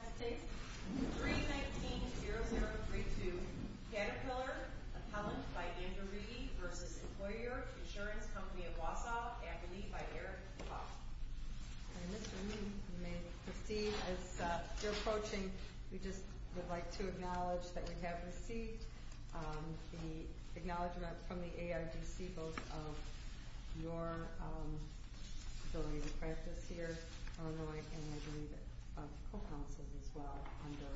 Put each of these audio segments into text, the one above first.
319-0032 Caterpillar Appellant by Andrew Reedy v. Employer Insurance Company of Wausau Academy by Eric McCaul And Mr. Reedy, you may proceed as you're approaching. We just would like to acknowledge that we have received the acknowledgement from the ARDC both of your ability to practice here in Illinois and I believe of the co-counsel's as well under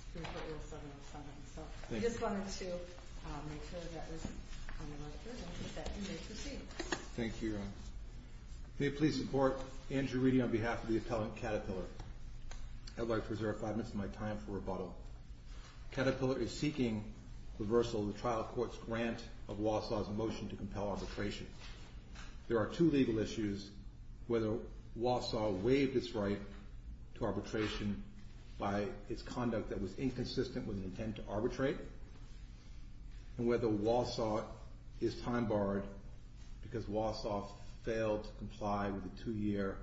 Supreme Court Rule 707. So we just wanted to make sure that was on the record and that you may proceed. Thank you. May it please the Court, Andrew Reedy on behalf of the appellant Caterpillar. I would like to reserve five minutes of my time for rebuttal. Caterpillar is seeking reversal of the trial court's grant of Wausau's motion to compel arbitration. There are two legal issues, whether Wausau waived its right to arbitration by its conduct that was inconsistent with the intent to arbitrate and whether Wausau is time-barred because Wausau failed to comply with the two-year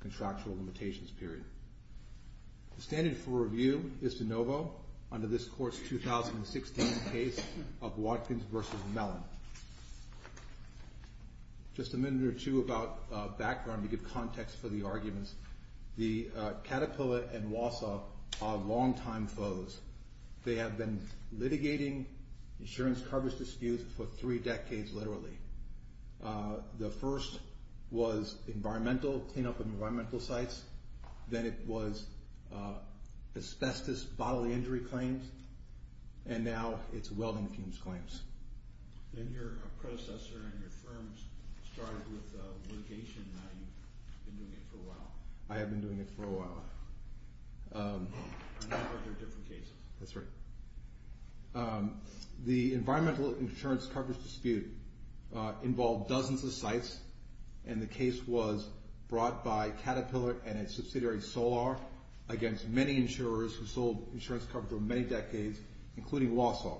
contractual limitations period. The standard for review is de novo under this Court's 2016 case of Watkins v. Mellon. Just a minute or two about background to give context for the arguments. The Caterpillar and Wausau are longtime foes. They have been litigating insurance coverage disputes for three decades literally. The first was clean-up of environmental sites. Then it was asbestos bodily injury claims. And now it's welding fumes claims. And your predecessor and your firm started with litigation. Now you've been doing it for a while. I have been doing it for a while. And now there are different cases. That's right. The environmental insurance coverage dispute involved dozens of sites, and the case was brought by Caterpillar and its subsidiary, Solar, against many insurers who sold insurance coverage for many decades, including Wausau.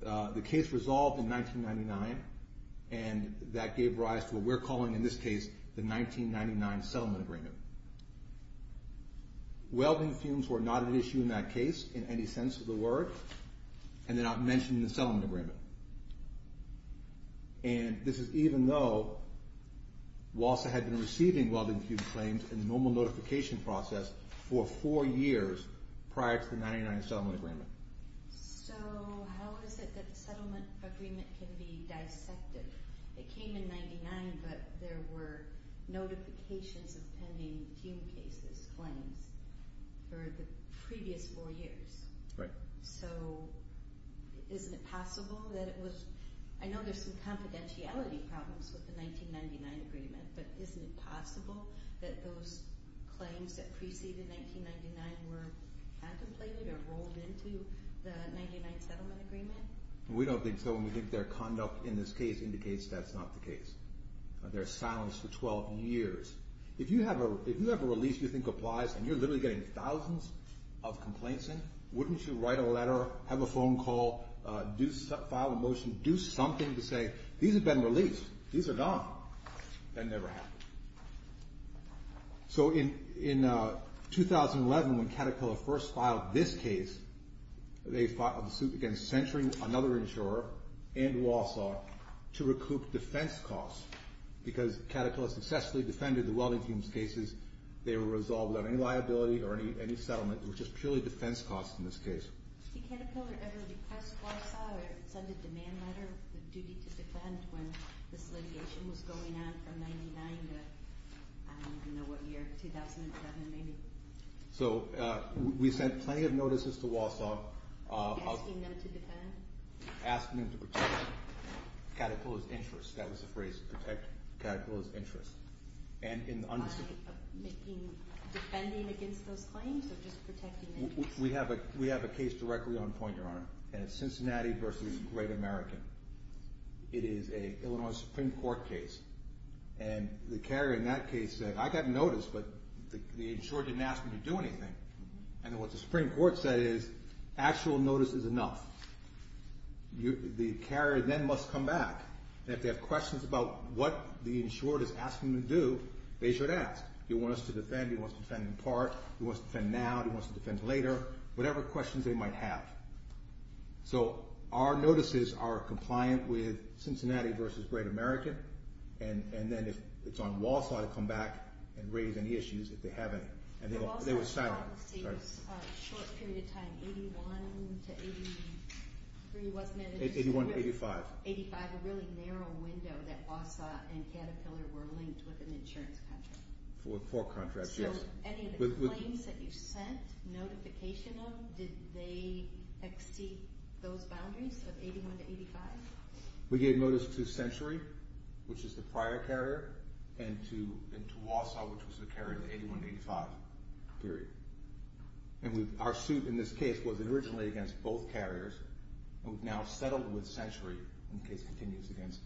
The case resolved in 1999, and that gave rise to what we're calling in this case the 1999 settlement agreement. Welding fumes were not an issue in that case in any sense of the word, and they're not mentioned in the settlement agreement. And this is even though Wausau had been receiving welding fume claims in the normal notification process for four years prior to the 1999 settlement agreement. So how is it that the settlement agreement can be dissected? It came in 1999, but there were notifications of pending fume cases claims for the previous four years. Right. So isn't it possible that it was—I know there's some confidentiality problems with the 1999 agreement, but isn't it possible that those claims that preceded 1999 were contemplated or rolled into the 1999 settlement agreement? We don't think so, and we think their conduct in this case indicates that's not the case. They're silenced for 12 years. If you have a release you think applies and you're literally getting thousands of complaints in, wouldn't you write a letter, have a phone call, file a motion, do something to say, these have been released, these are gone? That never happened. So in 2011 when Caterpillar first filed this case, they filed a suit against centering another insurer and Wausau to recoup defense costs because Caterpillar successfully defended the welding fumes cases. They were resolved without any liability or any settlement. It was just purely defense costs in this case. Did Caterpillar ever request Wausau or send a demand letter with a duty to defend when this litigation was going on from 1999 to I don't even know what year, 2007 maybe? So we sent plenty of notices to Wausau. Asking them to defend? Asking them to protect Caterpillar's interests. That was the phrase, protect Caterpillar's interests. By defending against those claims or just protecting interests? We have a case directly on point, Your Honor, and it's Cincinnati v. Great American. It is an Illinois Supreme Court case, and the carrier in that case said, I got notice but the insurer didn't ask me to do anything. And what the Supreme Court said is actual notice is enough. The carrier then must come back, and if they have questions about what the insurer is asking them to do, they should ask. Do you want us to defend? Do you want us to defend in part? Do you want us to defend now? Do you want us to defend later? Whatever questions they might have. So our notices are compliant with Cincinnati v. Great American, and then it's on Wausau to come back and raise any issues if they have any. Wausau's policy was a short period of time, 81 to 83, wasn't it? 81 to 85. 85, a really narrow window that Wausau and Caterpillar were linked with an insurance contract. Four contracts, yes. Any of the claims that you sent notification of, did they exceed those boundaries of 81 to 85? We gave notice to Century, which is the prior carrier, and to Wausau, which was the carrier in the 81 to 85 period. And our suit in this case was originally against both carriers, and we've now settled with Century and the case continues against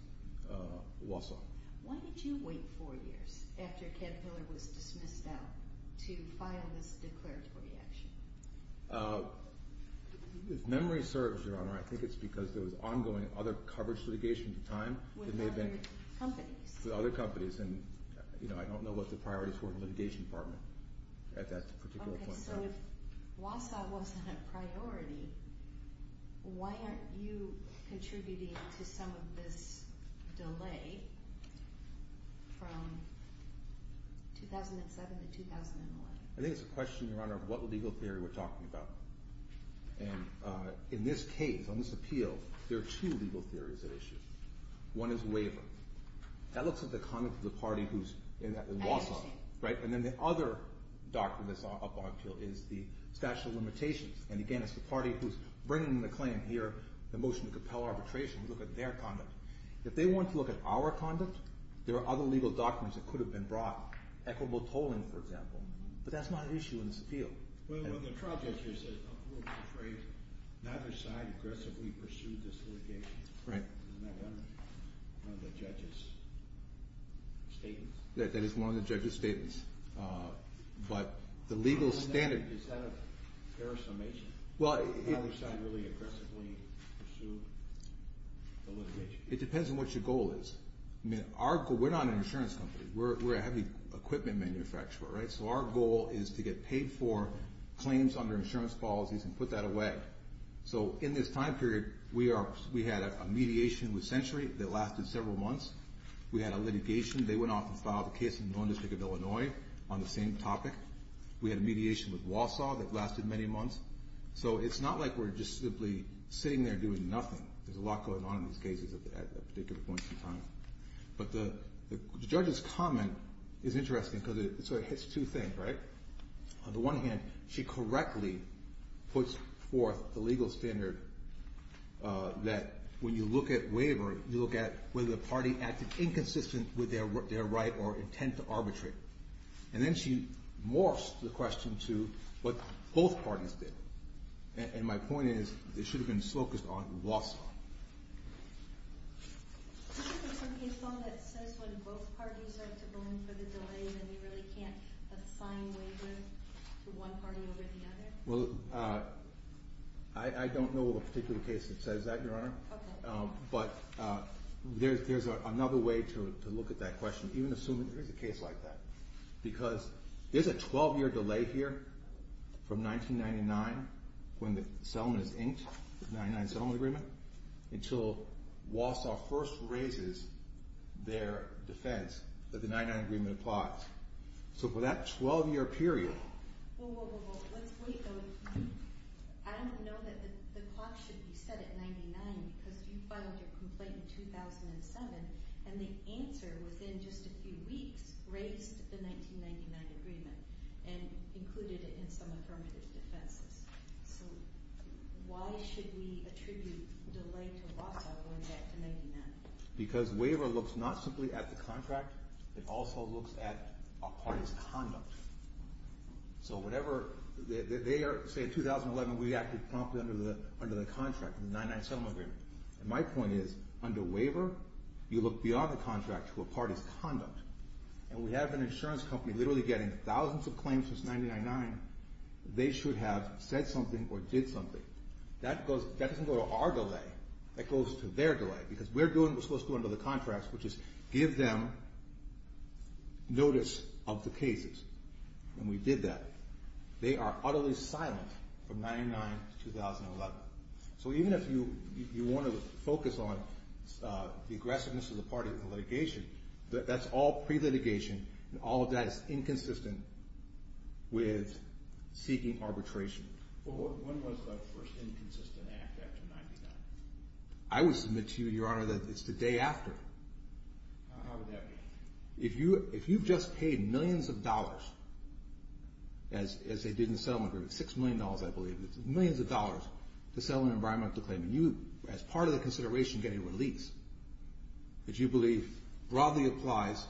Wausau. Why did you wait four years after Caterpillar was dismissed out to file this declaratory action? If memory serves, Your Honor, I think it's because there was ongoing other coverage litigation at the time. With other companies. With other companies, and I don't know what the priorities were in the litigation department at that particular point. So if Wausau wasn't a priority, why aren't you contributing to some of this delay from 2007 to 2011? I think it's a question, Your Honor, of what legal theory we're talking about. And in this case, on this appeal, there are two legal theories at issue. One is waiver. That looks at the conduct of the party who's in Wausau. And then the other doctrine that's up on appeal is the statute of limitations. And again, it's the party who's bringing the claim here, the motion to compel arbitration, to look at their conduct. If they want to look at our conduct, there are other legal doctrines that could have been brought. Equitable tolling, for example. But that's not an issue in this appeal. Well, the charge is that neither side aggressively pursued this litigation. Right. Isn't that one of the judge's statements? That is one of the judge's statements. But the legal standard... Is that a fair estimation? Well... Neither side really aggressively pursued the litigation? It depends on what your goal is. I mean, we're not an insurance company. We're a heavy equipment manufacturer, right? So our goal is to get paid for claims under insurance policies and put that away. So in this time period, we had a mediation with Century that lasted several months. We had a litigation. They went off and filed a case in the District of Illinois on the same topic. We had a mediation with Wausau that lasted many months. So it's not like we're just simply sitting there doing nothing. There's a lot going on in these cases at a particular point in time. But the judge's comment is interesting because it sort of hits two things, right? On the one hand, she correctly puts forth the legal standard that when you look at wavering, you look at whether the party acted inconsistent with their right or intent to arbitrate. And then she morphs the question to what both parties did. And my point is, it should have been focused on Wausau. Isn't there some case law that says when both parties are to blame for the delay then you really can't assign wavering to one party over the other? Well, I don't know of a particular case that says that, Your Honor. Okay. But there's another way to look at that question, even assuming there is a case like that. Because there's a 12-year delay here from 1999 when the settlement is inked, the 1999 settlement agreement, until Wausau first raises their defense that the 1999 agreement applies. So for that 12-year period. Well, let's wait, though. I don't know that the clock should be set at 99 because you filed your complaint in 2007 and the answer was in just a few weeks raised the 1999 agreement and included it in some affirmative defenses. So why should we attribute delay to Wausau going back to 1999? Because waver looks not simply at the contract. It also looks at a party's conduct. So whenever they are, say, in 2011, we acted promptly under the contract, the 99 settlement agreement. And my point is, under waver, you look beyond the contract to a party's conduct. And we have an insurance company literally getting thousands of claims since 1999. They should have said something or did something. That doesn't go to our delay. That goes to their delay because we're supposed to go under the contract, which is give them notice of the cases. And we did that. They are utterly silent from 99 to 2011. So even if you want to focus on the aggressiveness of the party in litigation, that's all pre-litigation. And all of that is inconsistent with seeking arbitration. When was the first inconsistent act after 99? I would submit to you, Your Honor, that it's the day after. How would that be? If you've just paid millions of dollars, as they did in the settlement agreement, $6 million, I believe, millions of dollars to settle an environmental claim, and you, as part of the consideration, get a release, that you believe broadly applies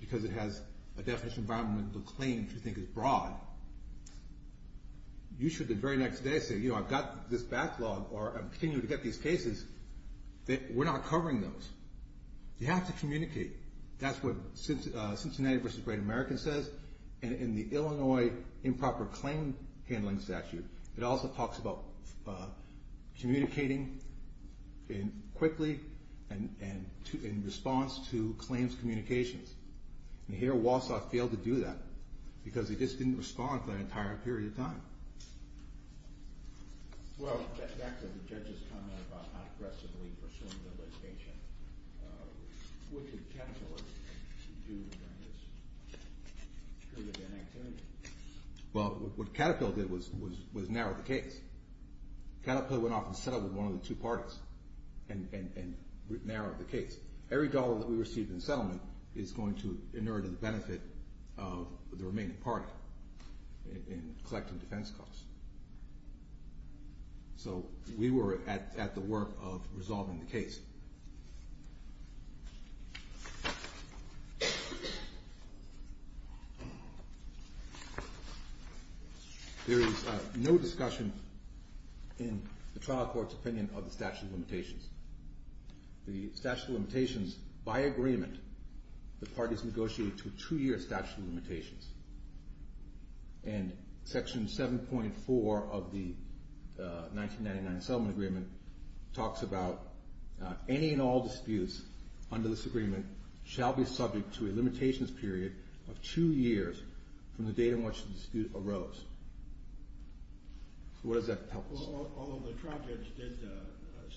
because it has a definition of environmental claim that you think is broad, you should the very next day say, you know, I've got this backlog or I'm continuing to get these cases. We're not covering those. You have to communicate. That's what Cincinnati v. Great American says. And in the Illinois improper claim handling statute, it also talks about communicating quickly and in response to claims communications. And here Walsall failed to do that because he just didn't respond for that entire period of time. Well, back to the judge's comment about how aggressively pursuing the litigation, what did Caterpillar do during this period of inactivity? Well, what Caterpillar did was narrow the case. Caterpillar went off and settled with one of the two parties and narrowed the case. Every dollar that we received in settlement is going to inure to the benefit of the remaining party in collecting defense costs. So we were at the work of resolving the case. There is no discussion in the trial court's opinion of the statute of limitations. The statute of limitations, by agreement, the parties negotiated to a two-year statute of limitations. And Section 7.4 of the 1999 Settlement Agreement talks about any and all disputes under this agreement shall be subject to a limitations period of two years from the date in which the dispute arose. So what does that tell us? Although the trial judge did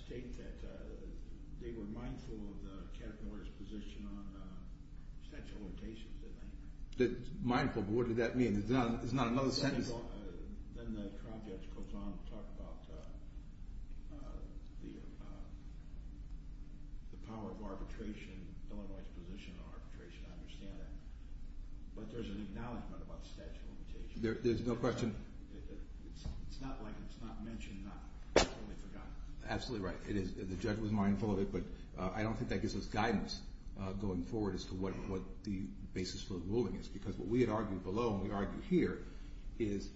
state that they were mindful of Caterpillar's position on the statute of limitations, didn't they? Mindful, but what did that mean? It's not another sentence. Then the trial judge goes on to talk about the power of arbitration, Illinois' position on arbitration. I understand that. But there's an acknowledgment about the statute of limitations. There's no question. It's not like it's not mentioned. It's only forgotten. Absolutely right. The judge was mindful of it, but I don't think that gives us guidance going forward as to what the basis for the ruling is. Because what we had argued below and we argue here is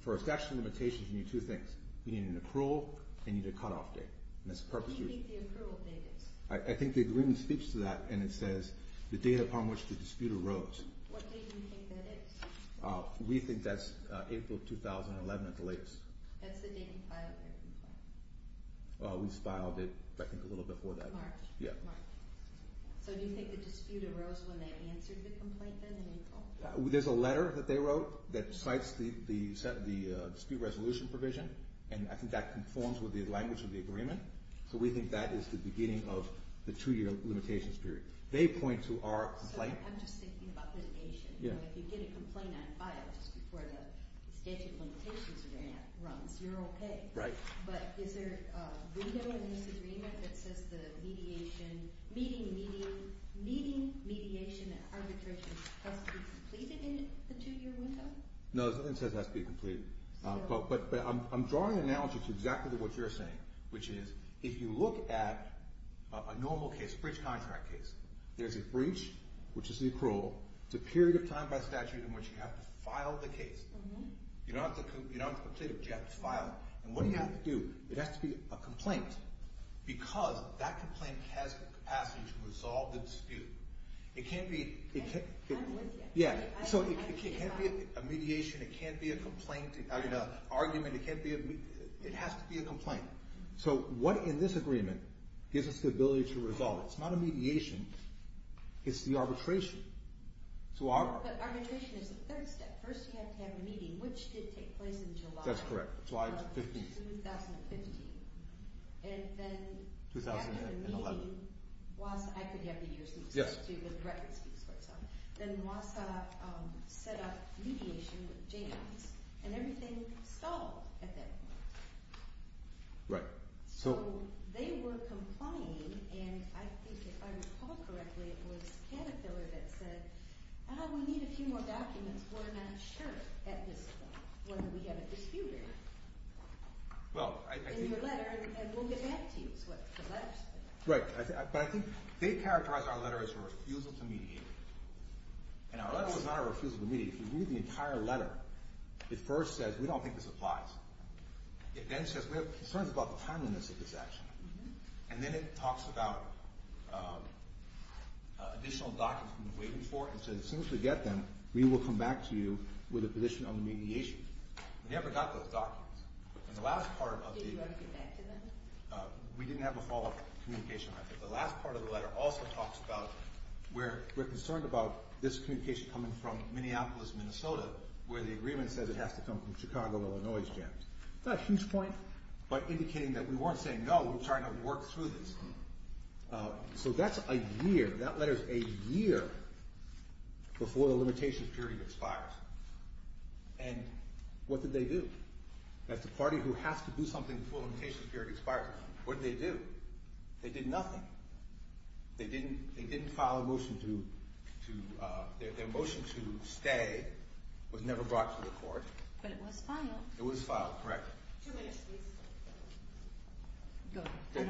for a statute of limitations, you need two things. You need an approval and you need a cutoff date. What do you think the approval date is? I think the agreement speaks to that. And it says the date upon which the dispute arose. What date do you think that is? We think that's April 2011 at the latest. That's the date you filed that complaint? We filed it, I think, a little before that. March? Yeah. So do you think the dispute arose when they answered the complaint in April? There's a letter that they wrote that cites the dispute resolution provision, and I think that conforms with the language of the agreement. So we think that is the beginning of the two-year limitations period. They point to our complaint. I'm just thinking about litigation. If you get a complaint not filed just before the statute of limitations runs, you're okay. Right. But is there a window in this agreement that says the meeting, mediation, and arbitration has to be completed in the two-year window? No, nothing says it has to be completed. But I'm drawing an analogy to exactly what you're saying, which is if you look at a normal case, a breach contract case, there's a breach, which is an accrual. It's a period of time by statute in which you have to file the case. You don't have to complete it. You have to file it. And what do you have to do? It has to be a complaint because that complaint has the capacity to resolve the dispute. It can't be a mediation. It can't be an argument. It has to be a complaint. So what in this agreement gives us the ability to resolve it? It's not a mediation. It's the arbitration. But arbitration is the third step. First you have to have a meeting, which did take place in July. That's correct. July 15th. In 2015. And then after the meeting, WASA, I could have the years, but the record speaks for itself. Then WASA set up mediation with James, and everything stalled at that point. Right. So they were complying, and I think if I recall correctly, it was Cannafiller that said, Ah, we need a few more documents. We're not sure at this point whether we have a dispute in your letter, and we'll get back to you is what the letter said. Right. But I think they characterized our letter as a refusal to mediate. And our letter was not a refusal to mediate. If you read the entire letter, it first says we don't think this applies. It then says we have concerns about the timeliness of this action. And then it talks about additional documents we've been waiting for, and says as soon as we get them, we will come back to you with a position on the mediation. We never got those documents. Did you ever get back to them? We didn't have a follow-up communication. The last part of the letter also talks about we're concerned about this communication coming from Minneapolis, Minnesota, where the agreement says it has to come from Chicago, Illinois, etc. Not a huge point, but indicating that we weren't saying no. We're trying to work through this. So that's a year. That letter's a year before the limitation of purity expires. And what did they do? That's the party who has to do something before the limitation of purity expires. What did they do? They did nothing. They didn't file a motion to stay. It was never brought to the court. But it was filed. It was filed, correct. Two minutes, please. They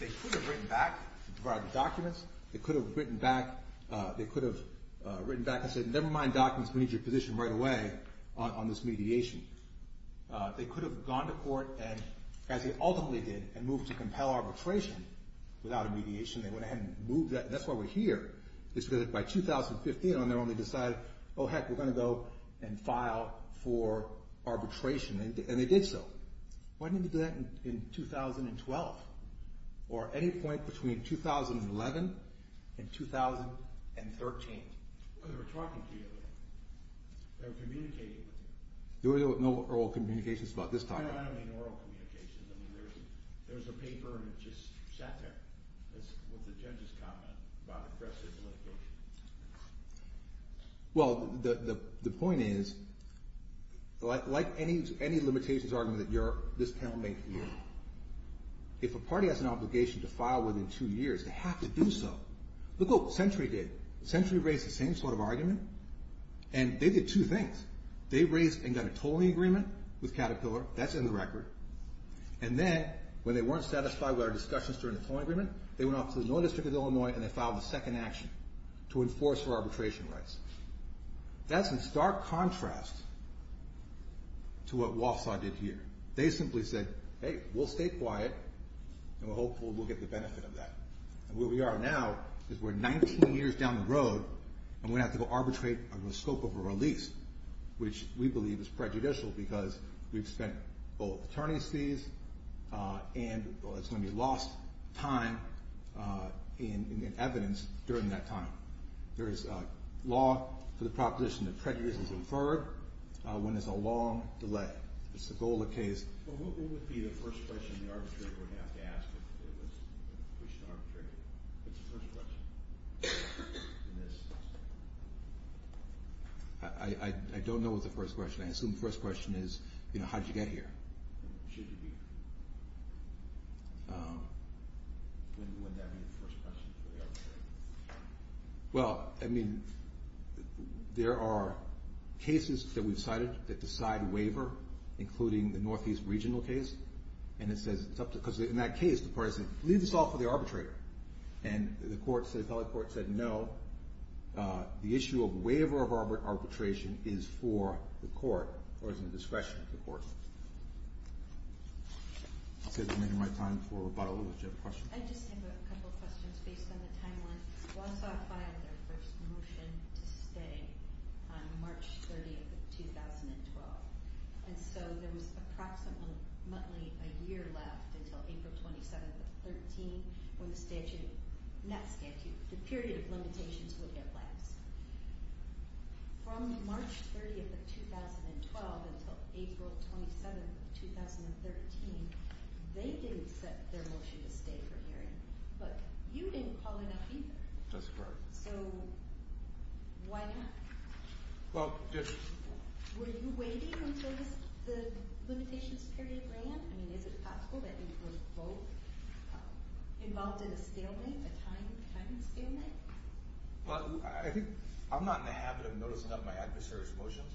could have written back to provide the documents. They could have written back and said, never mind documents. We need your position right away on this mediation. They could have gone to court, as they ultimately did, and moved to compel arbitration without a mediation. They went ahead and moved that. That's why we're here. It's because by 2015, they only decided, oh, heck, we're going to go and file for arbitration. And they did so. Why didn't they do that in 2012? Or any point between 2011 and 2013? Because they were talking to you. They were communicating with you. There were no oral communications about this topic. I don't mean oral communications. There was a paper, and it just sat there, with the judge's comment about aggressive litigation. Well, the point is, like any limitations argument that this panel made for you, if a party has an obligation to file within two years, they have to do so. Look what Century did. Century raised the same sort of argument. And they did two things. They raised and got a tolling agreement with Caterpillar. That's in the record. And then, when they weren't satisfied with our discussions during the tolling agreement, they went off to the North District of Illinois, and they filed a second action to enforce our arbitration rights. That's in stark contrast to what Walsall did here. They simply said, hey, we'll stay quiet, and hopefully we'll get the benefit of that. And where we are now is we're 19 years down the road, and we're going to have to go arbitrate under the scope of a release, which we believe is prejudicial because we've spent both attorney's fees and it's going to be lost time in evidence during that time. There is law for the proposition that prejudice is inferred when there's a long delay. That's the goal of the case. Well, what would be the first question the arbitrator would have to ask if it was pushed to arbitration? What's the first question in this? I don't know what the first question is. I assume the first question is, you know, how did you get here? Should you be here? When would that be the first question for the arbitrator? Well, I mean, there are cases that we've cited that decide waiver, including the Northeast Regional case, and it says it's up to, because in that case, the parties say, leave this all for the arbitrator. And the court, the appellate court said no. The issue of waiver of arbitration is for the court or is in the discretion of the court. I think I'm making my time for about a minute. Do you have a question? I just have a couple of questions based on the timeline. Warsaw filed their first motion to stay on March 30th of 2012. And so there was approximately a year left until April 27th of 2013 when the statute, not statute, the period of limitations would get passed. From March 30th of 2012 until April 27th of 2013, they didn't set their motion to stay for hearing. But you didn't call it up either. That's correct. So why not? Well, just— Were you waiting until the limitations period ran? I mean, is it possible that you were both involved in a stalemate, a timed stalemate? Well, I think I'm not in the habit of noticing up my adversaries' motions.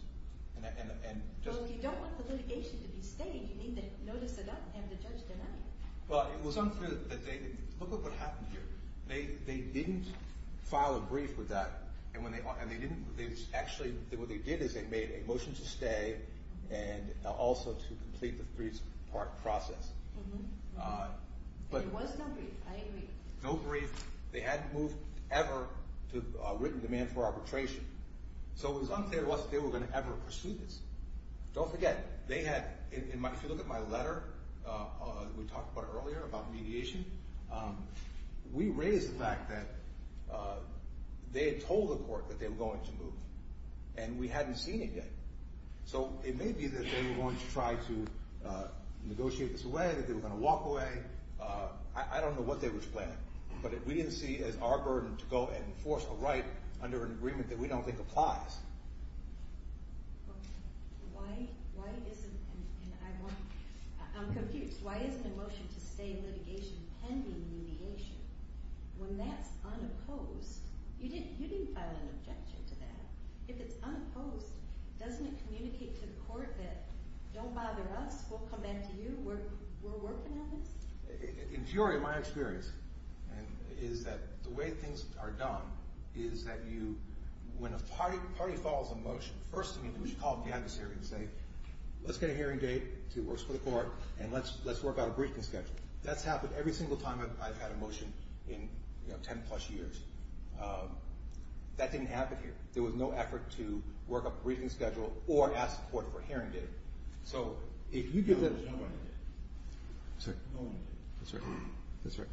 Well, if you don't want the litigation to be stayed, you need to notice it up and have the judge deny it. Well, it was unclear that they—look at what happened here. They didn't file a brief with that. And they didn't—actually, what they did is they made a motion to stay and also to complete the brief process. And there was no brief. I agree. No brief. They hadn't moved ever to written demand for arbitration. So it was unclear whether they were going to ever pursue this. Don't forget, they had—if you look at my letter, we talked about it earlier, about mediation. We raised the fact that they had told the court that they were going to move. And we hadn't seen it yet. So it may be that they were going to try to negotiate this away, that they were going to walk away. I don't know what they were planning. But we didn't see it as our burden to go and enforce a right under an agreement that we don't think applies. Okay. Why isn't—and I want—I'm confused. Why isn't the motion to stay in litigation pending mediation? When that's unopposed—you didn't file an objection to that. If it's unopposed, doesn't it communicate to the court that, don't bother us, we'll come back to you, we're working on this? In theory, my experience is that the way things are done is that you— every party follows a motion. First, I mean, we should call up the adversary and say, let's get a hearing date so it works for the court, and let's work out a briefing schedule. That's happened every single time I've had a motion in 10-plus years. That didn't happen here. There was no effort to work up a briefing schedule or ask the court for a hearing date. So if you give them— There's no running date. No running date. That's right.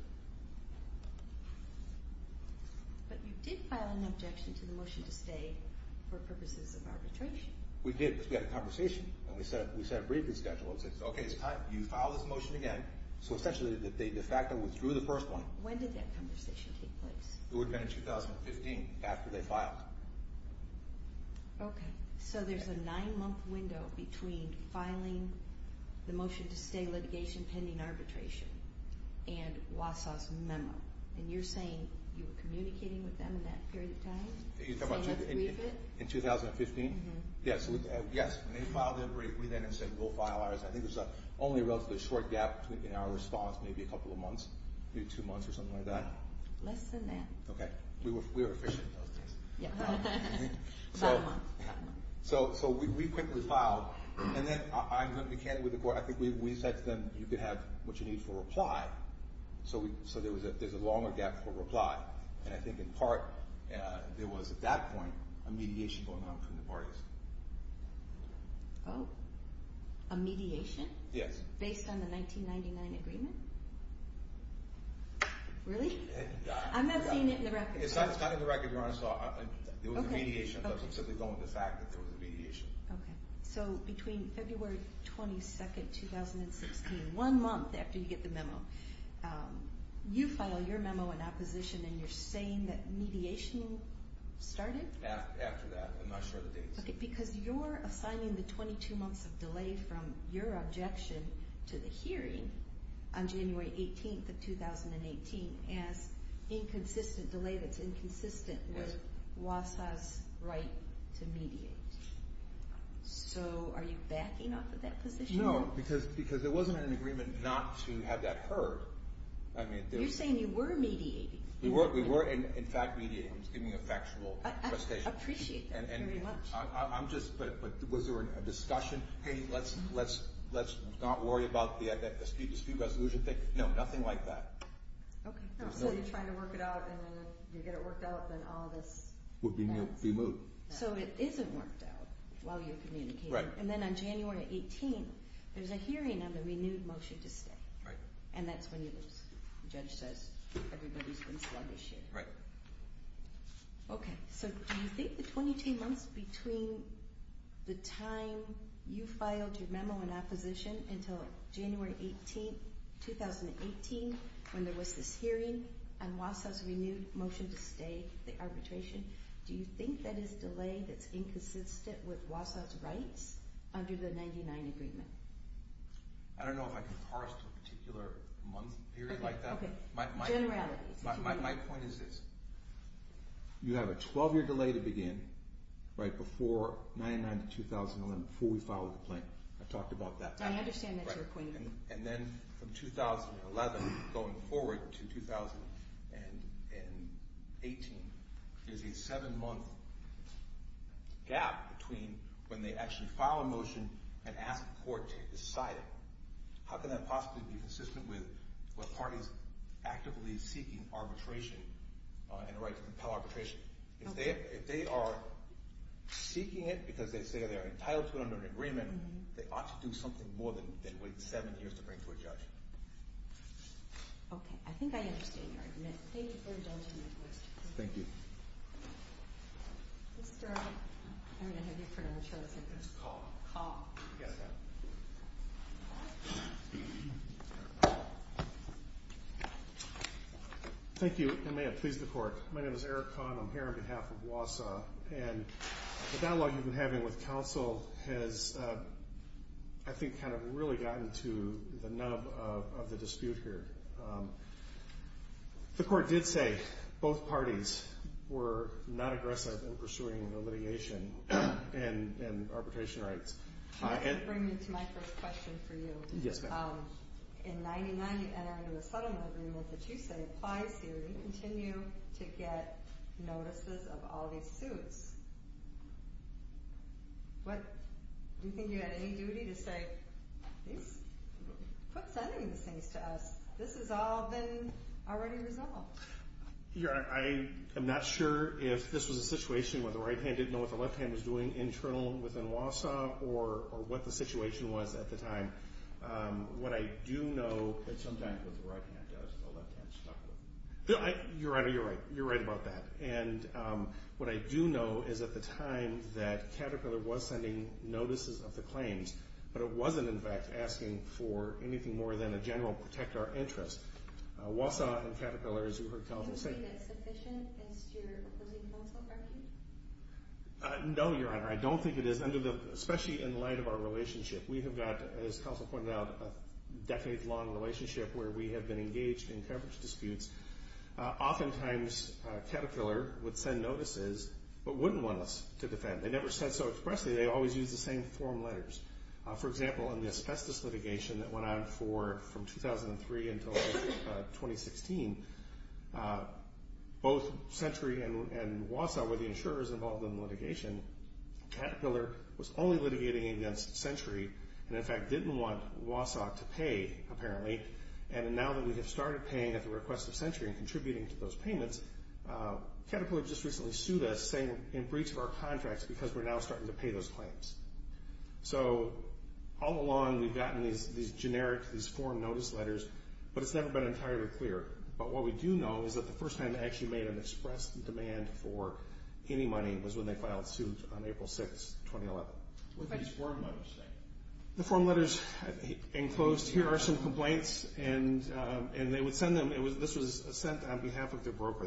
But you did file an objection to the motion to stay for purposes of arbitration. We did, because we had a conversation, and we set up a briefing schedule. We said, okay, it's time. You file this motion again. So essentially, they de facto withdrew the first one. When did that conversation take place? It would have been in 2015, after they filed. Okay. So there's a nine-month window between filing the motion to stay in litigation pending arbitration and Wausau's memo, and you're saying you were communicating with them in that period of time? In 2015? Yes. Yes. When they filed it, we then said, we'll file ours. I think there's only a relatively short gap in our response, maybe a couple of months, maybe two months or something like that. Less than that. Okay. We were efficient in those days. So we quickly filed, and then I'm going to be candid with the court. I think we said to them, you could have what you need for a reply. So there's a longer gap for a reply, and I think in part there was at that point a mediation going on from the parties. Oh, a mediation? Yes. Based on the 1999 agreement? Really? I'm not seeing it in the records. It's not in the records, Your Honor. Okay. So between February 22, 2016, one month after you get the memo, you file your memo in opposition, and you're saying that mediation started? After that. I'm not sure of the dates. Okay. Because you're assigning the 22 months of delay from your objection to the hearing on January 18th of 2018 as inconsistent delay that's inconsistent with WASA's right to mediate. So are you backing off of that position? No, because there wasn't an agreement not to have that heard. You're saying you were mediating. We were, in fact, mediating. I'm just giving you a factual presentation. I appreciate that very much. But was there a discussion? Hey, let's not worry about the speed-to-speed resolution thing? No, nothing like that. Okay. So you're trying to work it out, and then if you get it worked out, then all this would be moved. So it isn't worked out while you're communicating. Right. And then on January 18th, there's a hearing on the renewed motion to stay. Right. And that's when you lose. The judge says everybody's been sluggish here. Right. Okay. So do you think the 22 months between the time you filed your memo in opposition until January 18th, 2018, when there was this hearing on WASA's renewed motion to stay, the arbitration, do you think that is delay that's inconsistent with WASA's rights under the 99 agreement? I don't know if I can parse to a particular month period like that. Okay. Generalities. My point is this. You have a 12-year delay to begin right before 99 to 2011, before we filed the complaint. I talked about that. I understand that you're pointing to that. And then from 2011 going forward to 2018, there's a seven-month gap between when they actually file a motion and ask the court to decide it. How can that possibly be consistent with what parties actively seeking arbitration and the right to compel arbitration? If they are seeking it because they say they're entitled to it under an agreement, they ought to do something more than wait seven years to bring it to a judge. Okay. I think I understand your argument. Thank you for indulging my question. Thank you. Mr. I don't know how you pronounce your last name. It's Kahl. Kahl. Yes, ma'am. Thank you. It may have pleased the court. My name is Eric Kahn. I'm here on behalf of WASA. And the dialogue you've been having with counsel has, I think, kind of really gotten to the nub of the dispute here. The court did say both parties were not aggressive in pursuing the litigation and arbitration rights. Can I bring you to my first question for you? Yes, ma'am. In 1999, you enter into a settlement agreement that you say applies here. You continue to get notices of all these suits. Do you think you had any duty to say, please quit sending these things to us? This has all been already resolved. Your Honor, I am not sure if this was a situation where the right hand didn't know what the situation was at the time. What I do know is at the time that Caterpillar was sending notices of the claims, but it wasn't, in fact, asking for anything more than a general protect our interests. WASA and Caterpillar, as you heard counsel say. Do you think that's sufficient against your opposing counsel? No, Your Honor. I don't think it is, especially in light of our relationship. We have got, as counsel pointed out, a decade-long relationship where we have been engaged in coverage disputes. Oftentimes, Caterpillar would send notices but wouldn't want us to defend. They never said so expressly. They always used the same form letters. For example, in the asbestos litigation that went on from 2003 until 2016, both Century and WASA were the insurers involved in the litigation. Caterpillar was only litigating against Century and, in fact, didn't want WASA to pay, apparently. And now that we have started paying at the request of Century and contributing to those payments, Caterpillar just recently sued us saying in breach of our contracts because we're now starting to pay those claims. So all along, we've gotten these generic, these form notice letters, but it's never been entirely clear but what we do know is that the first time they actually made an express demand for any money was when they filed suit on April 6, 2011. What did these form letters say? The form letters enclosed, here are some complaints, and they would send them. This was sent on behalf of their broker.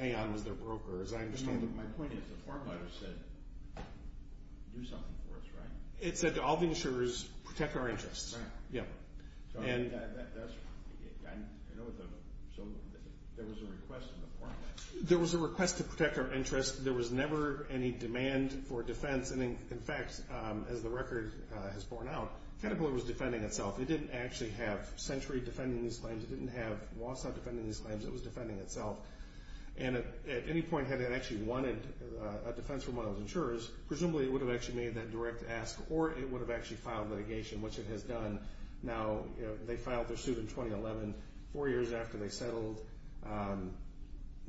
Aon was their broker, as I understand it. My point is the form letter said, do something for us, right? It said to all the insurers, protect our interests. Right. Yeah. So there was a request in the form letter? There was a request to protect our interests. There was never any demand for defense. And, in fact, as the record has borne out, Caterpillar was defending itself. It didn't actually have Century defending these claims. It didn't have WASA defending these claims. It was defending itself. And at any point, had it actually wanted a defense from one of those insurers, presumably it would have actually made that direct ask or it would have actually filed litigation, which it has done. Now, they filed their suit in 2011, four years after they settled,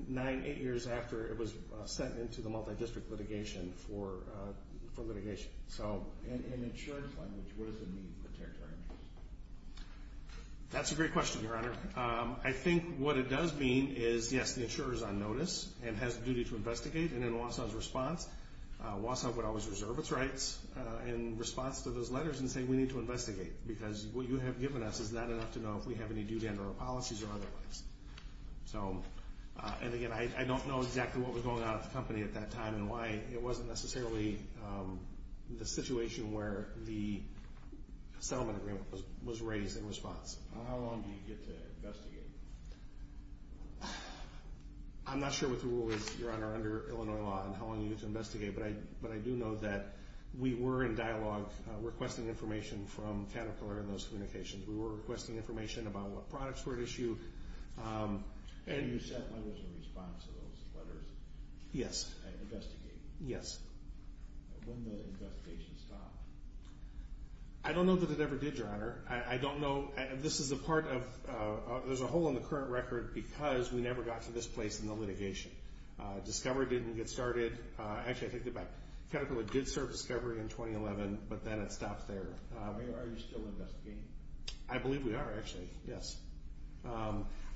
nine, eight years after it was sent into the multidistrict litigation for litigation. In insurance language, what does it mean, protect our interests? That's a great question, Your Honor. I think what it does mean is, yes, the insurer is on notice and has a duty to investigate. And in WASA's response, WASA would always reserve its rights in response to those letters and say, we need to investigate because what you have given us is not enough to know if we have any due to enter our policies or otherwise. And, again, I don't know exactly what was going on at the company at that time and why it wasn't necessarily the situation where the settlement agreement was raised in response. How long do you get to investigate? I'm not sure what the rule is, Your Honor, under Illinois law and how long you get to investigate, but I do know that we were in dialogue requesting information from Caterpillar in those communications. We were requesting information about what products were at issue. And you sent letters in response to those letters? Yes. And investigate? Yes. When did the investigation stop? I don't know that it ever did, Your Honor. I don't know. This is a part of – there's a hole in the current record because we never got to this place in the litigation. Discovery didn't get started. Actually, I take that back. Caterpillar did serve Discovery in 2011, but then it stopped there. Are you still investigating? I believe we are, actually, yes.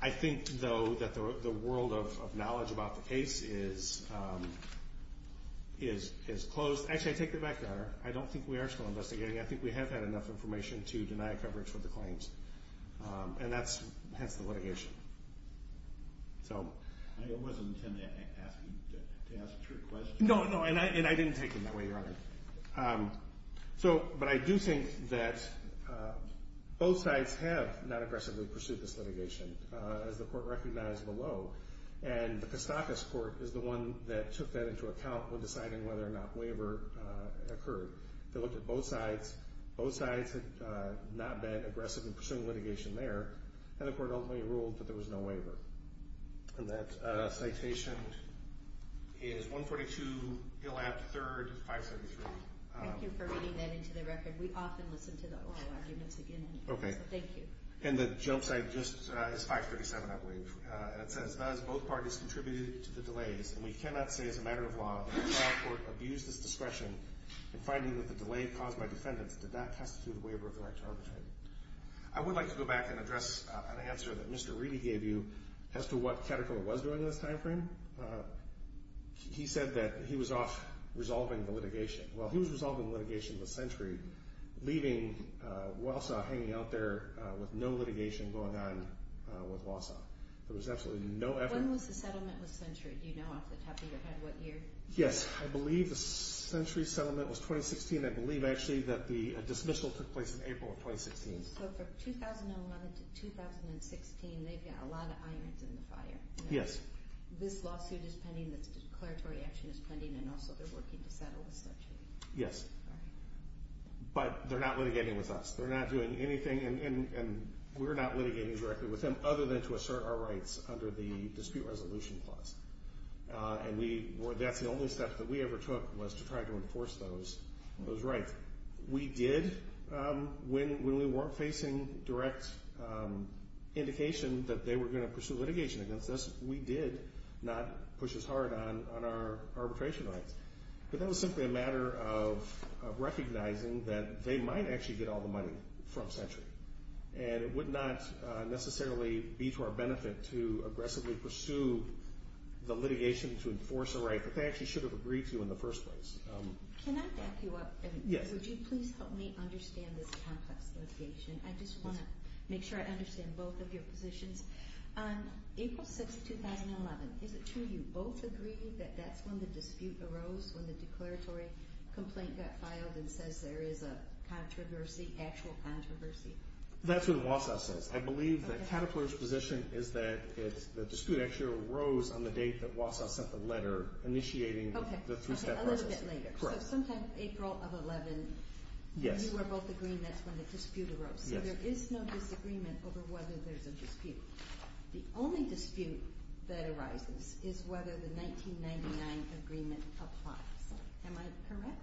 I think, though, that the world of knowledge about the case is closed. Actually, I take that back, Your Honor. I don't think we are still investigating. I think we have had enough information to deny coverage for the claims, and that's the litigation. I wasn't intending to ask you to ask a trick question. No, no, and I didn't take it that way, Your Honor. But I do think that both sides have not aggressively pursued this litigation, as the Court recognized below. And the Kostakis Court is the one that took that into account when deciding whether or not waiver occurred. They looked at both sides. Both sides had not been aggressive in pursuing litigation there, and the Court ultimately ruled that there was no waiver. And that citation is 142 Gillap, 3rd, 573. Thank you for reading that into the record. We often listen to the oral arguments again. Okay. So thank you. And the jump site just is 537, I believe. And it says, Thus, both parties contributed to the delays, and we cannot say as a matter of law that the trial court abused its discretion in finding that the delay caused by defendants did not constitute a waiver of the right to arbitrate. I would like to go back and address an answer that Mr. Reedy gave you as to what Katterkiller was doing in this time frame. He said that he was off resolving the litigation. Well, he was resolving the litigation of the century, leaving Wausau hanging out there with no litigation going on with Wausau. There was absolutely no effort. When was the settlement of the century? Do you know off the top of your head what year? Yes. I believe the century settlement was 2016. I believe actually that the dismissal took place in April of 2016. So from 2011 to 2016, they've got a lot of irons in the fire. Yes. This lawsuit is pending, this declaratory action is pending, and also they're working to settle the century. Yes. All right. But they're not litigating with us. They're not doing anything, and we're not litigating directly with them other than to assert our rights under the dispute resolution clause. And that's the only step that we ever took was to try to enforce those rights. We did, when we weren't facing direct indication that they were going to pursue litigation against us, we did not push as hard on our arbitration rights. But that was simply a matter of recognizing that they might actually get all the money from century. And it would not necessarily be to our benefit to aggressively pursue the litigation to enforce a right that they actually should have agreed to in the first place. Can I back you up? Yes. Would you please help me understand this complex litigation? I just want to make sure I understand both of your positions. On April 6th, 2011, is it true you both agreed that that's when the dispute arose, when the declaratory complaint got filed and says there is a controversy, actual controversy? That's what Wausau says. I believe that Caterpillar's position is that the dispute actually arose on the date that Wausau sent the letter initiating the three-step process. Okay, a little bit later. Correct. So sometime April of 11, and you were both agreeing that's when the dispute arose. Yes. So there is no disagreement over whether there's a dispute. The only dispute that arises is whether the 1999 agreement applies. Am I correct?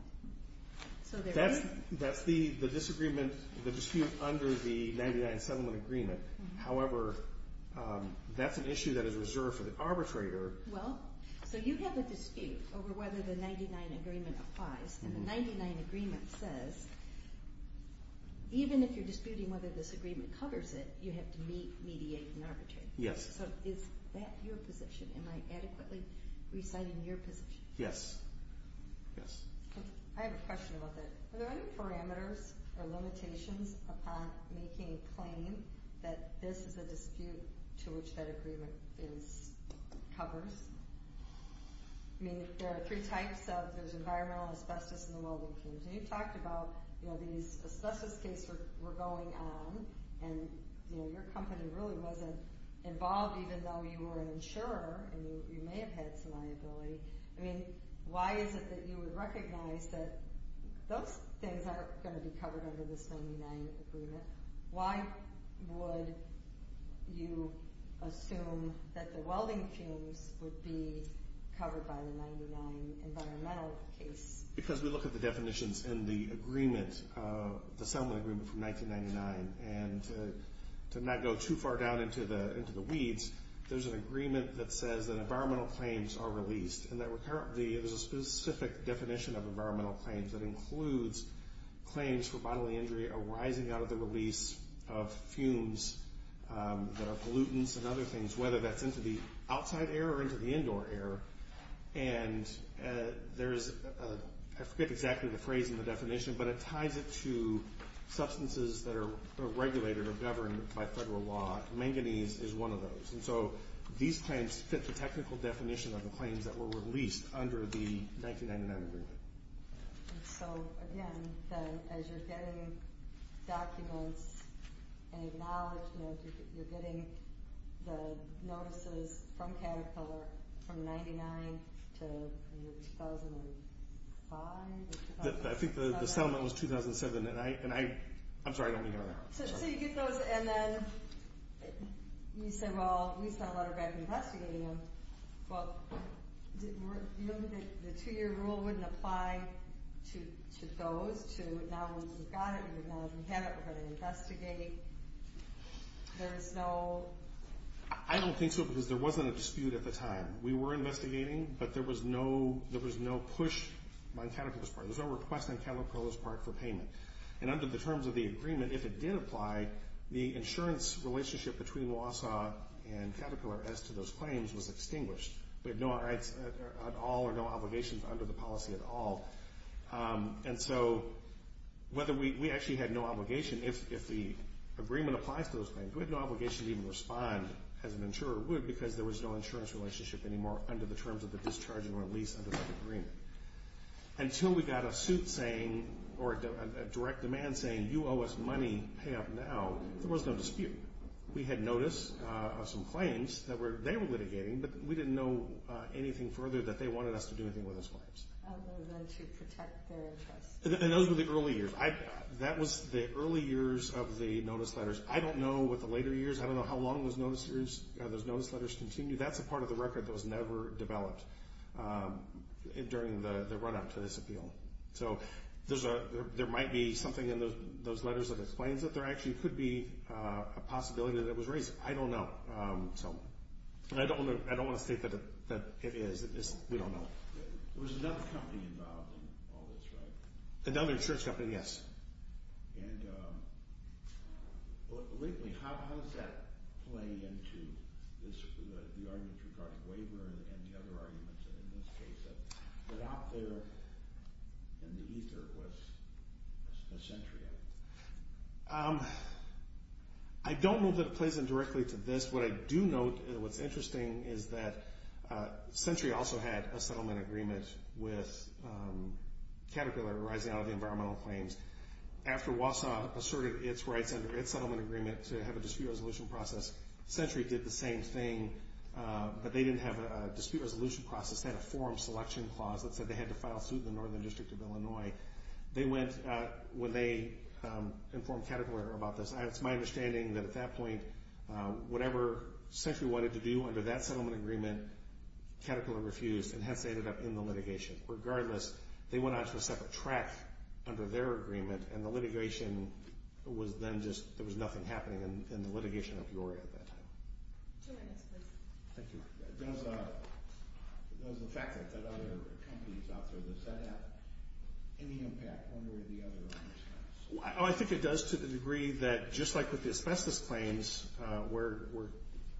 That's the disagreement, the dispute under the 1999 settlement agreement. However, that's an issue that is reserved for the arbitrator. Well, so you have a dispute over whether the 1999 agreement applies. And the 1999 agreement says even if you're disputing whether this agreement covers it, you have to mediate and arbitrate. Yes. So is that your position? Am I adequately reciting your position? Yes. Yes. I have a question about that. Are there any parameters or limitations upon making a claim that this is a dispute to which that agreement covers? I mean, there are three types of, there's environmental, asbestos, and the welding teams. And you talked about, you know, these asbestos cases were going on and, you know, your company really wasn't involved even though you were an insurer and you may have had some liability. I mean, why is it that you would recognize that those things aren't going to be covered under this 99 agreement? Why would you assume that the welding teams would be covered by the 99 environmental case? Because we look at the definitions in the agreement, the settlement agreement from 1999, and to not go too far down into the weeds, there's an agreement that says that environmental claims are released. And there's a specific definition of environmental claims that includes claims for bodily injury arising out of the release of fumes that are pollutants and other things, whether that's into the outside air or into the indoor air. And there's, I forget exactly the phrase in the definition, but it ties it to substances that are regulated or governed by federal law. Manganese is one of those. And so these claims fit the technical definition of the claims that were released under the 1999 agreement. So again, as you're getting documents and acknowledgement, you're getting the notices from Caterpillar from 1999 to 2005? I think the settlement was 2007, and I'm sorry, I don't remember that. So you get those, and then you say, well, we sent a letter back investigating them. Well, remember that the two-year rule wouldn't apply to those? Now that we've got it, now that we have it, we're going to investigate. There is no... I don't think so, because there wasn't a dispute at the time. We were investigating, but there was no push on Caterpillar's part. There was no request on Caterpillar's part for payment. And under the terms of the agreement, if it did apply, the insurance relationship between Wausau and Caterpillar as to those claims was extinguished. We had no rights at all or no obligations under the policy at all. And so we actually had no obligation. If the agreement applies to those claims, we had no obligation to even respond, as an insurer would, because there was no insurance relationship anymore under the terms of the discharge and release under that agreement. Until we got a suit saying, or a direct demand saying, you owe us money, pay up now, there was no dispute. We had notice of some claims that they were litigating, but we didn't know anything further that they wanted us to do anything with those claims. Other than to protect their interests. And those were the early years. That was the early years of the notice letters. I don't know what the later years, I don't know how long those notice letters continued. That's a part of the record that was never developed during the run up to this appeal. So there might be something in those letters that explains it. There actually could be a possibility that it was raised. I don't know. I don't want to state that it is. We don't know. There was another company involved in all this, right? Another insurance company, yes. And lately, how does that play into the arguments regarding waiver and the other arguments in this case? That out there in the ether was Centria. I don't know that it plays in directly to this. What I do note and what's interesting is that Centria also had a settlement agreement with Caterpillar arising out of the environmental claims. After WASOP asserted its rights under its settlement agreement to have a dispute resolution process, Centria did the same thing. But they didn't have a dispute resolution process. They had a forum selection clause that said they had to file suit in the Northern District of Illinois. They went when they informed Caterpillar about this. It's my understanding that at that point, whatever Centria wanted to do under that settlement agreement, Caterpillar refused, and hence they ended up in the litigation. Regardless, they went on to a separate track under their agreement, and the litigation was then just – there was nothing happening in the litigation of EURIA at that time. Two minutes, please. Thank you. Does the fact that there are other companies out there that said that have any impact one way or the other on this case? I think it does to the degree that just like with the asbestos claims where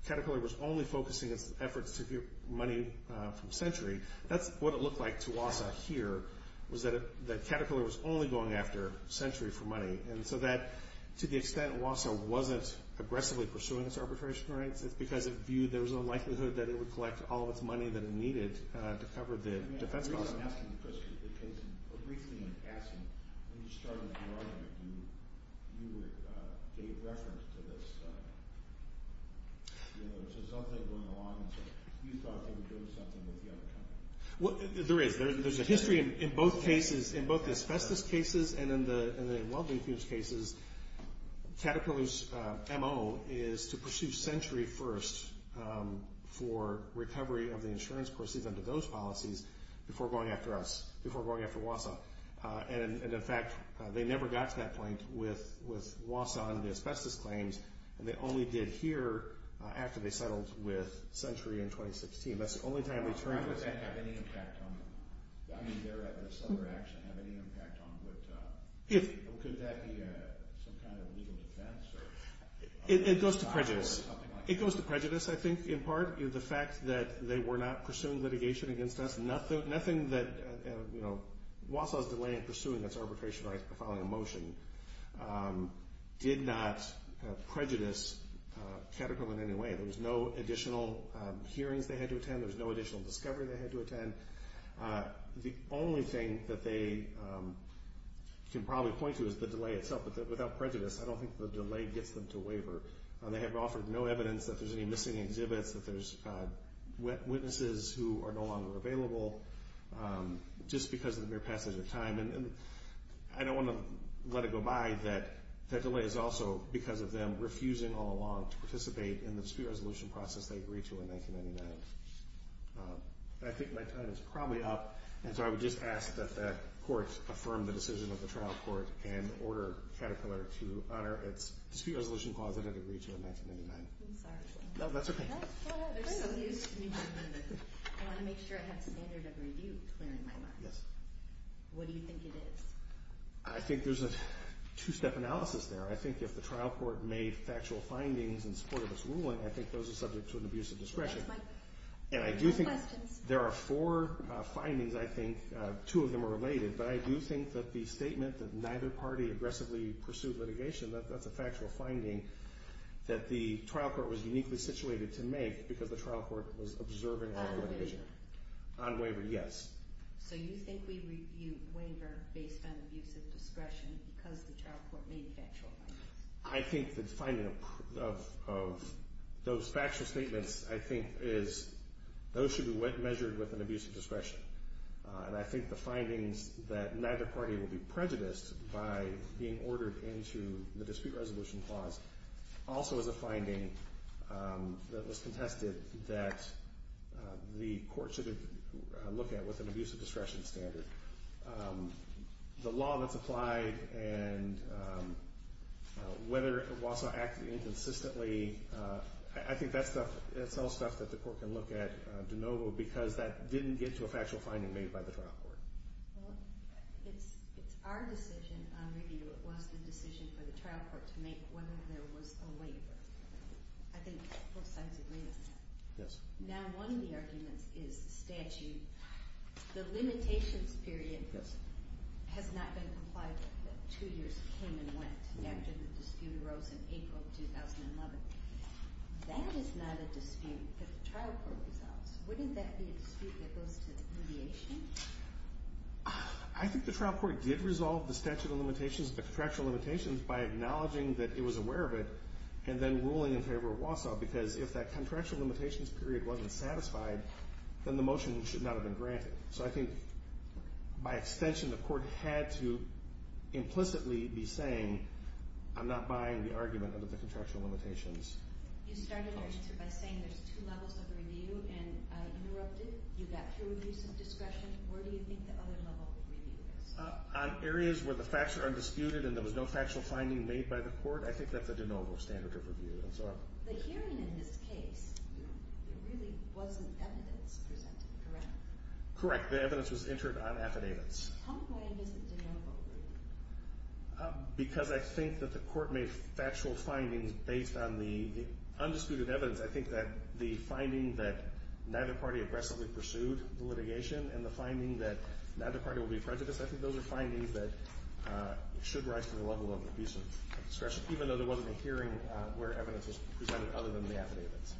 Caterpillar was only focusing its efforts to get money from Centria, that's what it looked like to WASA here, was that Caterpillar was only going after Centria for money. And so that, to the extent WASA wasn't aggressively pursuing its arbitration rights, it's because it viewed there was a likelihood that it would collect all of its money that it needed to cover the defense costs. I guess I'm asking the question because briefly I'm asking when you started with EURIA, you gave reference to this, you know, there's this other thing going along, and so you thought they were doing something with the other company. There is. There's a history in both cases, in both the asbestos cases and in the well-infused cases, Caterpillar's M.O. is to pursue Centria first for recovery of the insurance proceeds under those policies before going after us, before going after WASA. And, in fact, they never got to that point with WASA and the asbestos claims, and they only did here after they settled with Centria in 2016. That's the only time they turned with Centria. Does that have any impact on them? I mean, their other action have any impact on them? Could that be some kind of legal defense? It goes to prejudice. It goes to prejudice, I think, in part. The fact that they were not pursuing litigation against us, nothing that, you know, WASA's delay in pursuing its arbitration by filing a motion did not prejudice Caterpillar in any way. There was no additional hearings they had to attend. There was no additional discovery they had to attend. The only thing that they can probably point to is the delay itself, but without prejudice, I don't think the delay gets them to waiver. They have offered no evidence that there's any missing exhibits, that there's witnesses who are no longer available, just because of the mere passage of time. And I don't want to let it go by that that delay is also because of them refusing all along to participate in the dispute resolution process they agreed to in 1999. I think my time is probably up, and so I would just ask that the Court affirm the decision of the trial court and order Caterpillar to honor its dispute resolution clause that it agreed to in 1999. I'm sorry. No, that's okay. I want to make sure I have standard of review clear in my mind. What do you think it is? I think there's a two-step analysis there. I think if the trial court made factual findings in support of its ruling, I think those are subject to an abuse of discretion. And I do think there are four findings, I think, two of them are related, but I do think that the statement that neither party aggressively pursued litigation, that's a factual finding that the trial court was uniquely situated to make because the trial court was observing all the litigation. On waiver? On waiver, yes. So you think we review waiver based on abuse of discretion because the trial court made factual findings? I think the finding of those factual statements, I think, is those should be measured with an abuse of discretion. And I think the findings that neither party will be prejudiced by being ordered into the dispute resolution clause also is a finding that was contested that the court should have looked at with an abuse of discretion standard. The law that's applied and whether Walsall acted inconsistently, I think that's all stuff that the court can look at de novo because that didn't get to a factual finding made by the trial court. Well, it's our decision on review. It was the decision for the trial court to make whether there was a waiver. I think both sides agree on that. Yes. Now, one of the arguments is the statute, the limitations period has not been complied with. Two years came and went after the dispute arose in April of 2011. That is not a dispute that the trial court resolves. Wouldn't that be a dispute that goes to mediation? I think the trial court did resolve the statute of limitations, the contractual limitations, by acknowledging that it was aware of it and then ruling in favor of Walsall because if that contractual limitations period wasn't satisfied, then the motion should not have been granted. So I think by extension, the court had to implicitly be saying, I'm not buying the argument under the contractual limitations. You started by saying there's two levels of review, and I interrupted. You got through a piece of discretion. Where do you think the other level of review is? On areas where the facts are undisputed and there was no factual finding made by the court, I think that's a de novo standard of review. The hearing in this case, there really wasn't evidence presented, correct? Correct. The evidence was entered on affidavits. How important is the de novo review? Because I think that the court made factual findings based on the undisputed evidence. I think that the finding that neither party aggressively pursued the litigation and the finding that neither party will be prejudiced, I think those are findings that should rise to the level of a piece of discretion, even though there wasn't a hearing where evidence was presented other than the affidavits.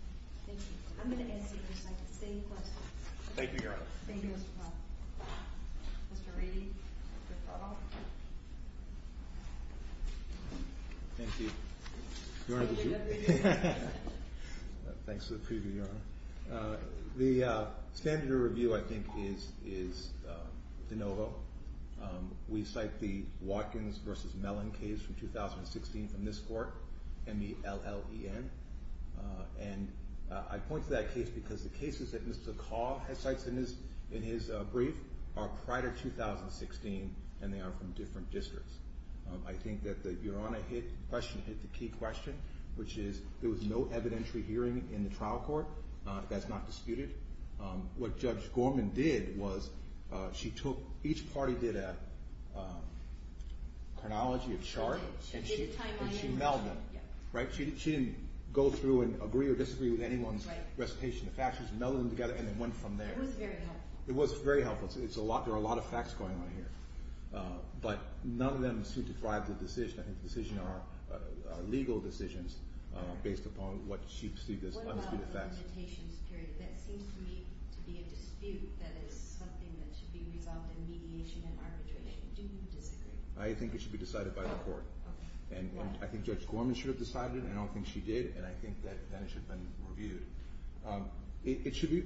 Thank you. I'm going to answer your second. Same question. Thank you, Your Honor. Thank you, Mr. Paul. Mr. Reedy. Thank you. Thanks for the preview, Your Honor. The standard of review, I think, is de novo. We cite the Watkins v. Mellon case from 2016 from this court, M-E-L-L-E-N. And I point to that case because the cases that Mr. Call cites in his brief are prior to 2016, and they are from different districts. I think that the Your Honor question hit the key question, which is there was no evidentiary hearing in the trial court. That's not disputed. What Judge Gorman did was she took – each party did a chronology of charts. She did a timeline analysis. She melded them, right? She didn't go through and agree or disagree with anyone's recitation of facts. She just melded them together, and it went from there. It was very helpful. It was very helpful. There are a lot of facts going on here. But none of them seem to drive the decision. I think the decision are legal decisions based upon what she perceived as unspecified facts. What about the limitations period? That seems to me to be a dispute that is something that should be resolved in mediation and arbitration. Do you disagree? I think it should be decided by the court. I think Judge Gorman should have decided it, and I don't think she did, and I think that it should have been reviewed.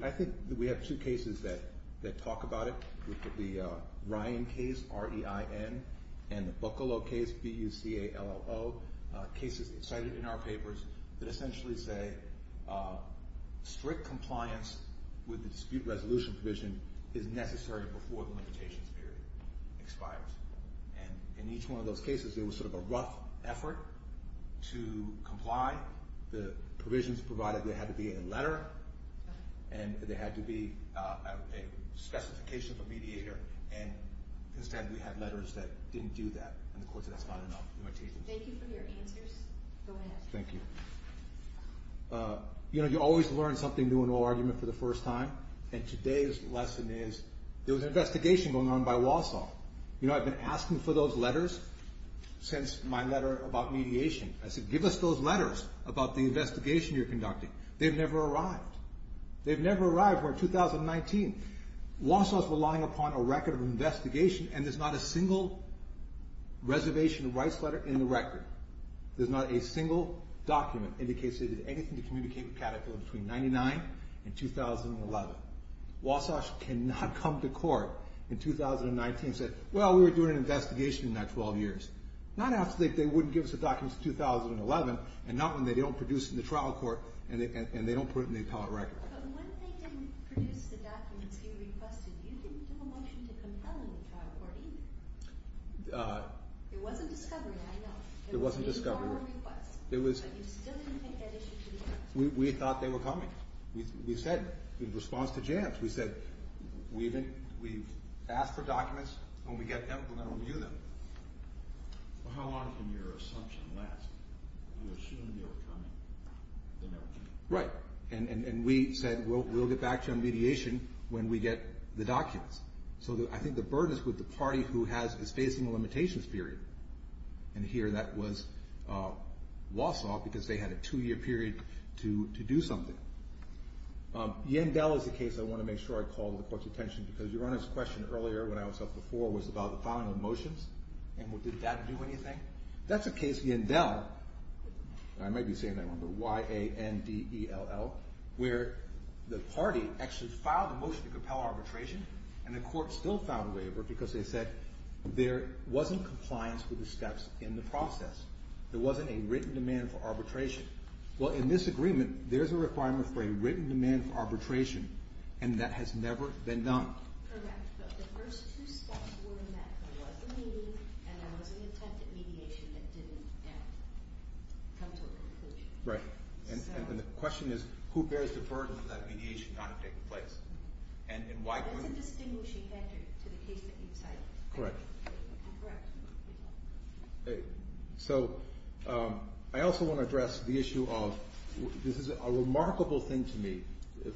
I think we have two cases that talk about it, with the Ryan case, R-E-I-N, and the Buccolo case, B-U-C-A-L-L-O, cases cited in our papers that essentially say strict compliance with the dispute resolution provision is necessary before the limitations period expires. And in each one of those cases, there was sort of a rough effort to comply. The provisions provided there had to be a letter, and there had to be a specification for mediator, and instead we had letters that didn't do that, and the court said that's not enough. Thank you for your answers. Go ahead. Thank you. You know, you always learn something new in an argument for the first time, and today's lesson is there was an investigation going on by Walsall. You know, I've been asking for those letters since my letter about mediation. I said, give us those letters about the investigation you're conducting. They've never arrived. They've never arrived. We're in 2019. Walsall's relying upon a record of investigation, and there's not a single reservation of rights letter in the record. There's not a single document indicating anything to communicate with Caterpillar between 1999 and 2011. Walsall cannot come to court in 2019 and say, well, we were doing an investigation in that 12 years. Not after they wouldn't give us the documents in 2011, and not when they don't produce in the trial court and they don't put it in the appellate record. But when they didn't produce the documents you requested, you didn't do a motion to compel in the trial court either. It wasn't discovery, I know. It wasn't discovery. But you still didn't take that issue to the court. We thought they were coming. We said, in response to Jantz, we said, we've asked for documents. When we get them, we're going to review them. Well, how long can your assumption last? You assumed they were coming. They never came. Right. And we said, we'll get back to you on mediation when we get the documents. So I think the burden is with the party who is facing a limitations period. And here that was Wausau, because they had a two-year period to do something. Yandel is a case I want to make sure I call the court's attention, because your Honor's question earlier when I was up before was about the filing of motions. And did that do anything? That's a case, Yandel, and I may be saying that wrong, but Y-A-N-D-E-L-L, where the party actually filed a motion to compel arbitration, and the court still filed a waiver because they said there wasn't compliance with the steps in the process. There wasn't a written demand for arbitration. Well, in this agreement, there's a requirement for a written demand for arbitration, and that has never been done. Correct, but the first two steps were in that there was a meeting and there was an attempt at mediation that didn't come to a conclusion. Right. And the question is, who bears the burden of that mediation not taking place? That's a distinguishing factor to the case that you cited. Correct. Correct. So I also want to address the issue of this is a remarkable thing to me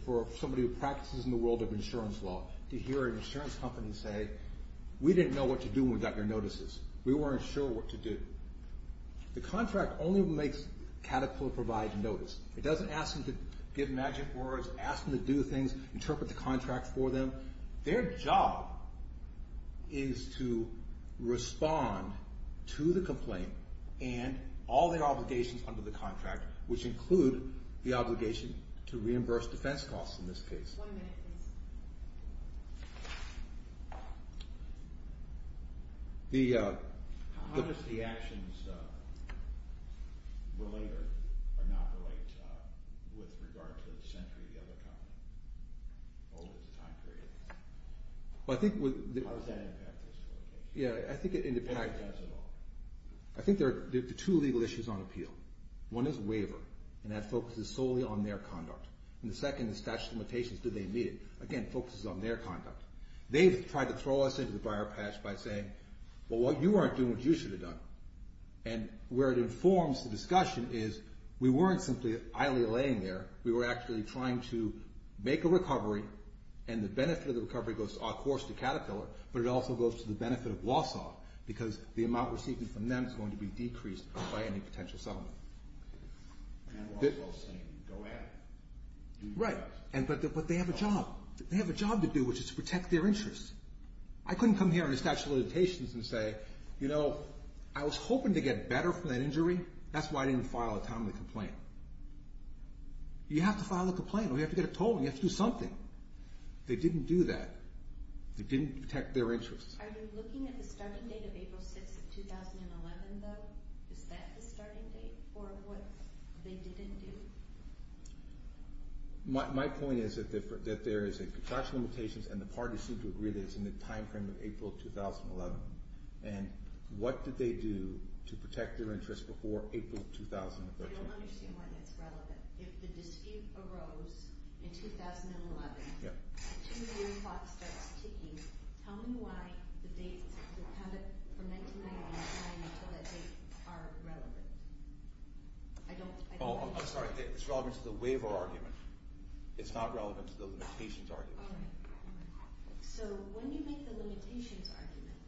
for somebody who practices in the world of insurance law to hear an insurance company say, we didn't know what to do when we got your notices. We weren't sure what to do. The contract only makes Caterpillar provide a notice. It doesn't ask them to give magic words, ask them to do things, interpret the contract for them. Their job is to respond to the complaint and all their obligations under the contract, which include the obligation to reimburse defense costs in this case. One minute, please. How does the actions relate or not relate with regard to the dissentry of the other company over the time period? How does that impact this litigation? Yeah, I think it depends. How does it all? I think there are two legal issues on appeal. One is waiver, and that focuses solely on their conduct. And the second is statute of limitations. Do they meet it? Again, it focuses on their conduct. They've tried to throw us into the briar patch by saying, well, you aren't doing what you should have done. And where it informs the discussion is we weren't simply idly laying there. We were actually trying to make a recovery, and the benefit of the recovery goes, of course, to Caterpillar, but it also goes to the benefit of Wausau because the amount received from them is going to be decreased by any potential settlement. And Wausau is saying, go ahead. Right. But they have a job. They have a job to do, which is to protect their interests. I couldn't come here under statute of limitations and say, you know, I was hoping to get better from that injury. That's why I didn't file a timely complaint. You have to file a complaint, or you have to get a tolling. You have to do something. They didn't do that. They didn't protect their interests. Are you looking at the starting date of April 6th, 2011, though? Is that the starting date for what they didn't do? My point is that there is a contraction of limitations, and the parties seem to agree that it's in the time frame of April 2011. And what did they do to protect their interests before April 2013? I don't understand why that's relevant. If the dispute arose in 2011, the two-year clock starts ticking, tell me why the dates from 1999 until that date are relevant. I don't understand. Oh, I'm sorry. It's relevant to the waiver argument. It's not relevant to the limitations argument. All right. So when you make the limitations argument,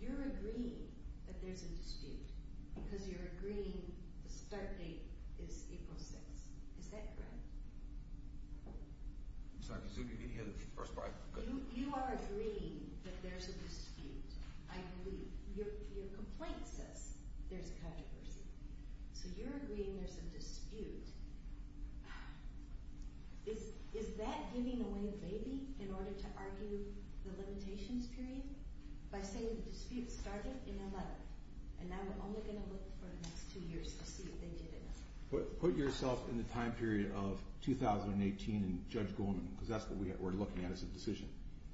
you're agreeing that there's a dispute because you're agreeing the start date is April 6th. Is that correct? I'm sorry. I'm assuming you didn't hear the first part. You are agreeing that there's a dispute, I believe. Your complaint says there's a controversy. So you're agreeing there's a dispute. Is that giving away the baby in order to argue the limitations period? By saying the dispute started in 2011, and now we're only going to look for the next two years to see if they did it. Put yourself in the time period of 2018 and Judge Goldman, because that's what we're looking at as a decision.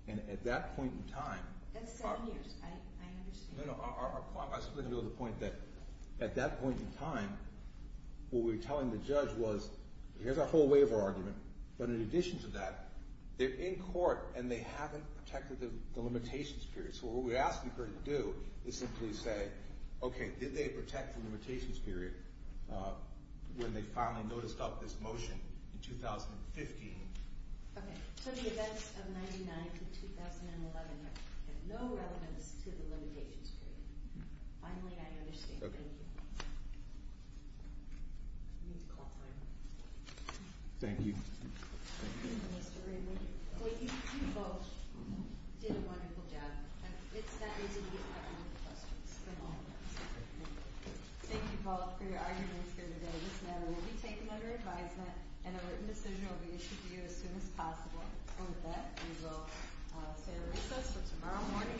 And at that point in time, That's seven years. I understand. No, no. I was just going to go to the point that at that point in time, what we were telling the judge was here's our whole waiver argument, but in addition to that, they're in court, and they haven't protected the limitations period. So what we're asking her to do is simply say, okay, did they protect the limitations period when they finally noticed this motion in 2015? Okay. So the events of 1999 to 2011 have no relevance to the limitations period. Finally, I understand. Okay. Thank you. I need to call time. Thank you. Mr. Raymond. Well, you both did a wonderful job. It's that easy to get caught up in the questions. Thank you both for your arguments here today. This matter will be taken under advisement and a written decision will be issued to you as soon as possible. And with that, we will say recess for tomorrow morning.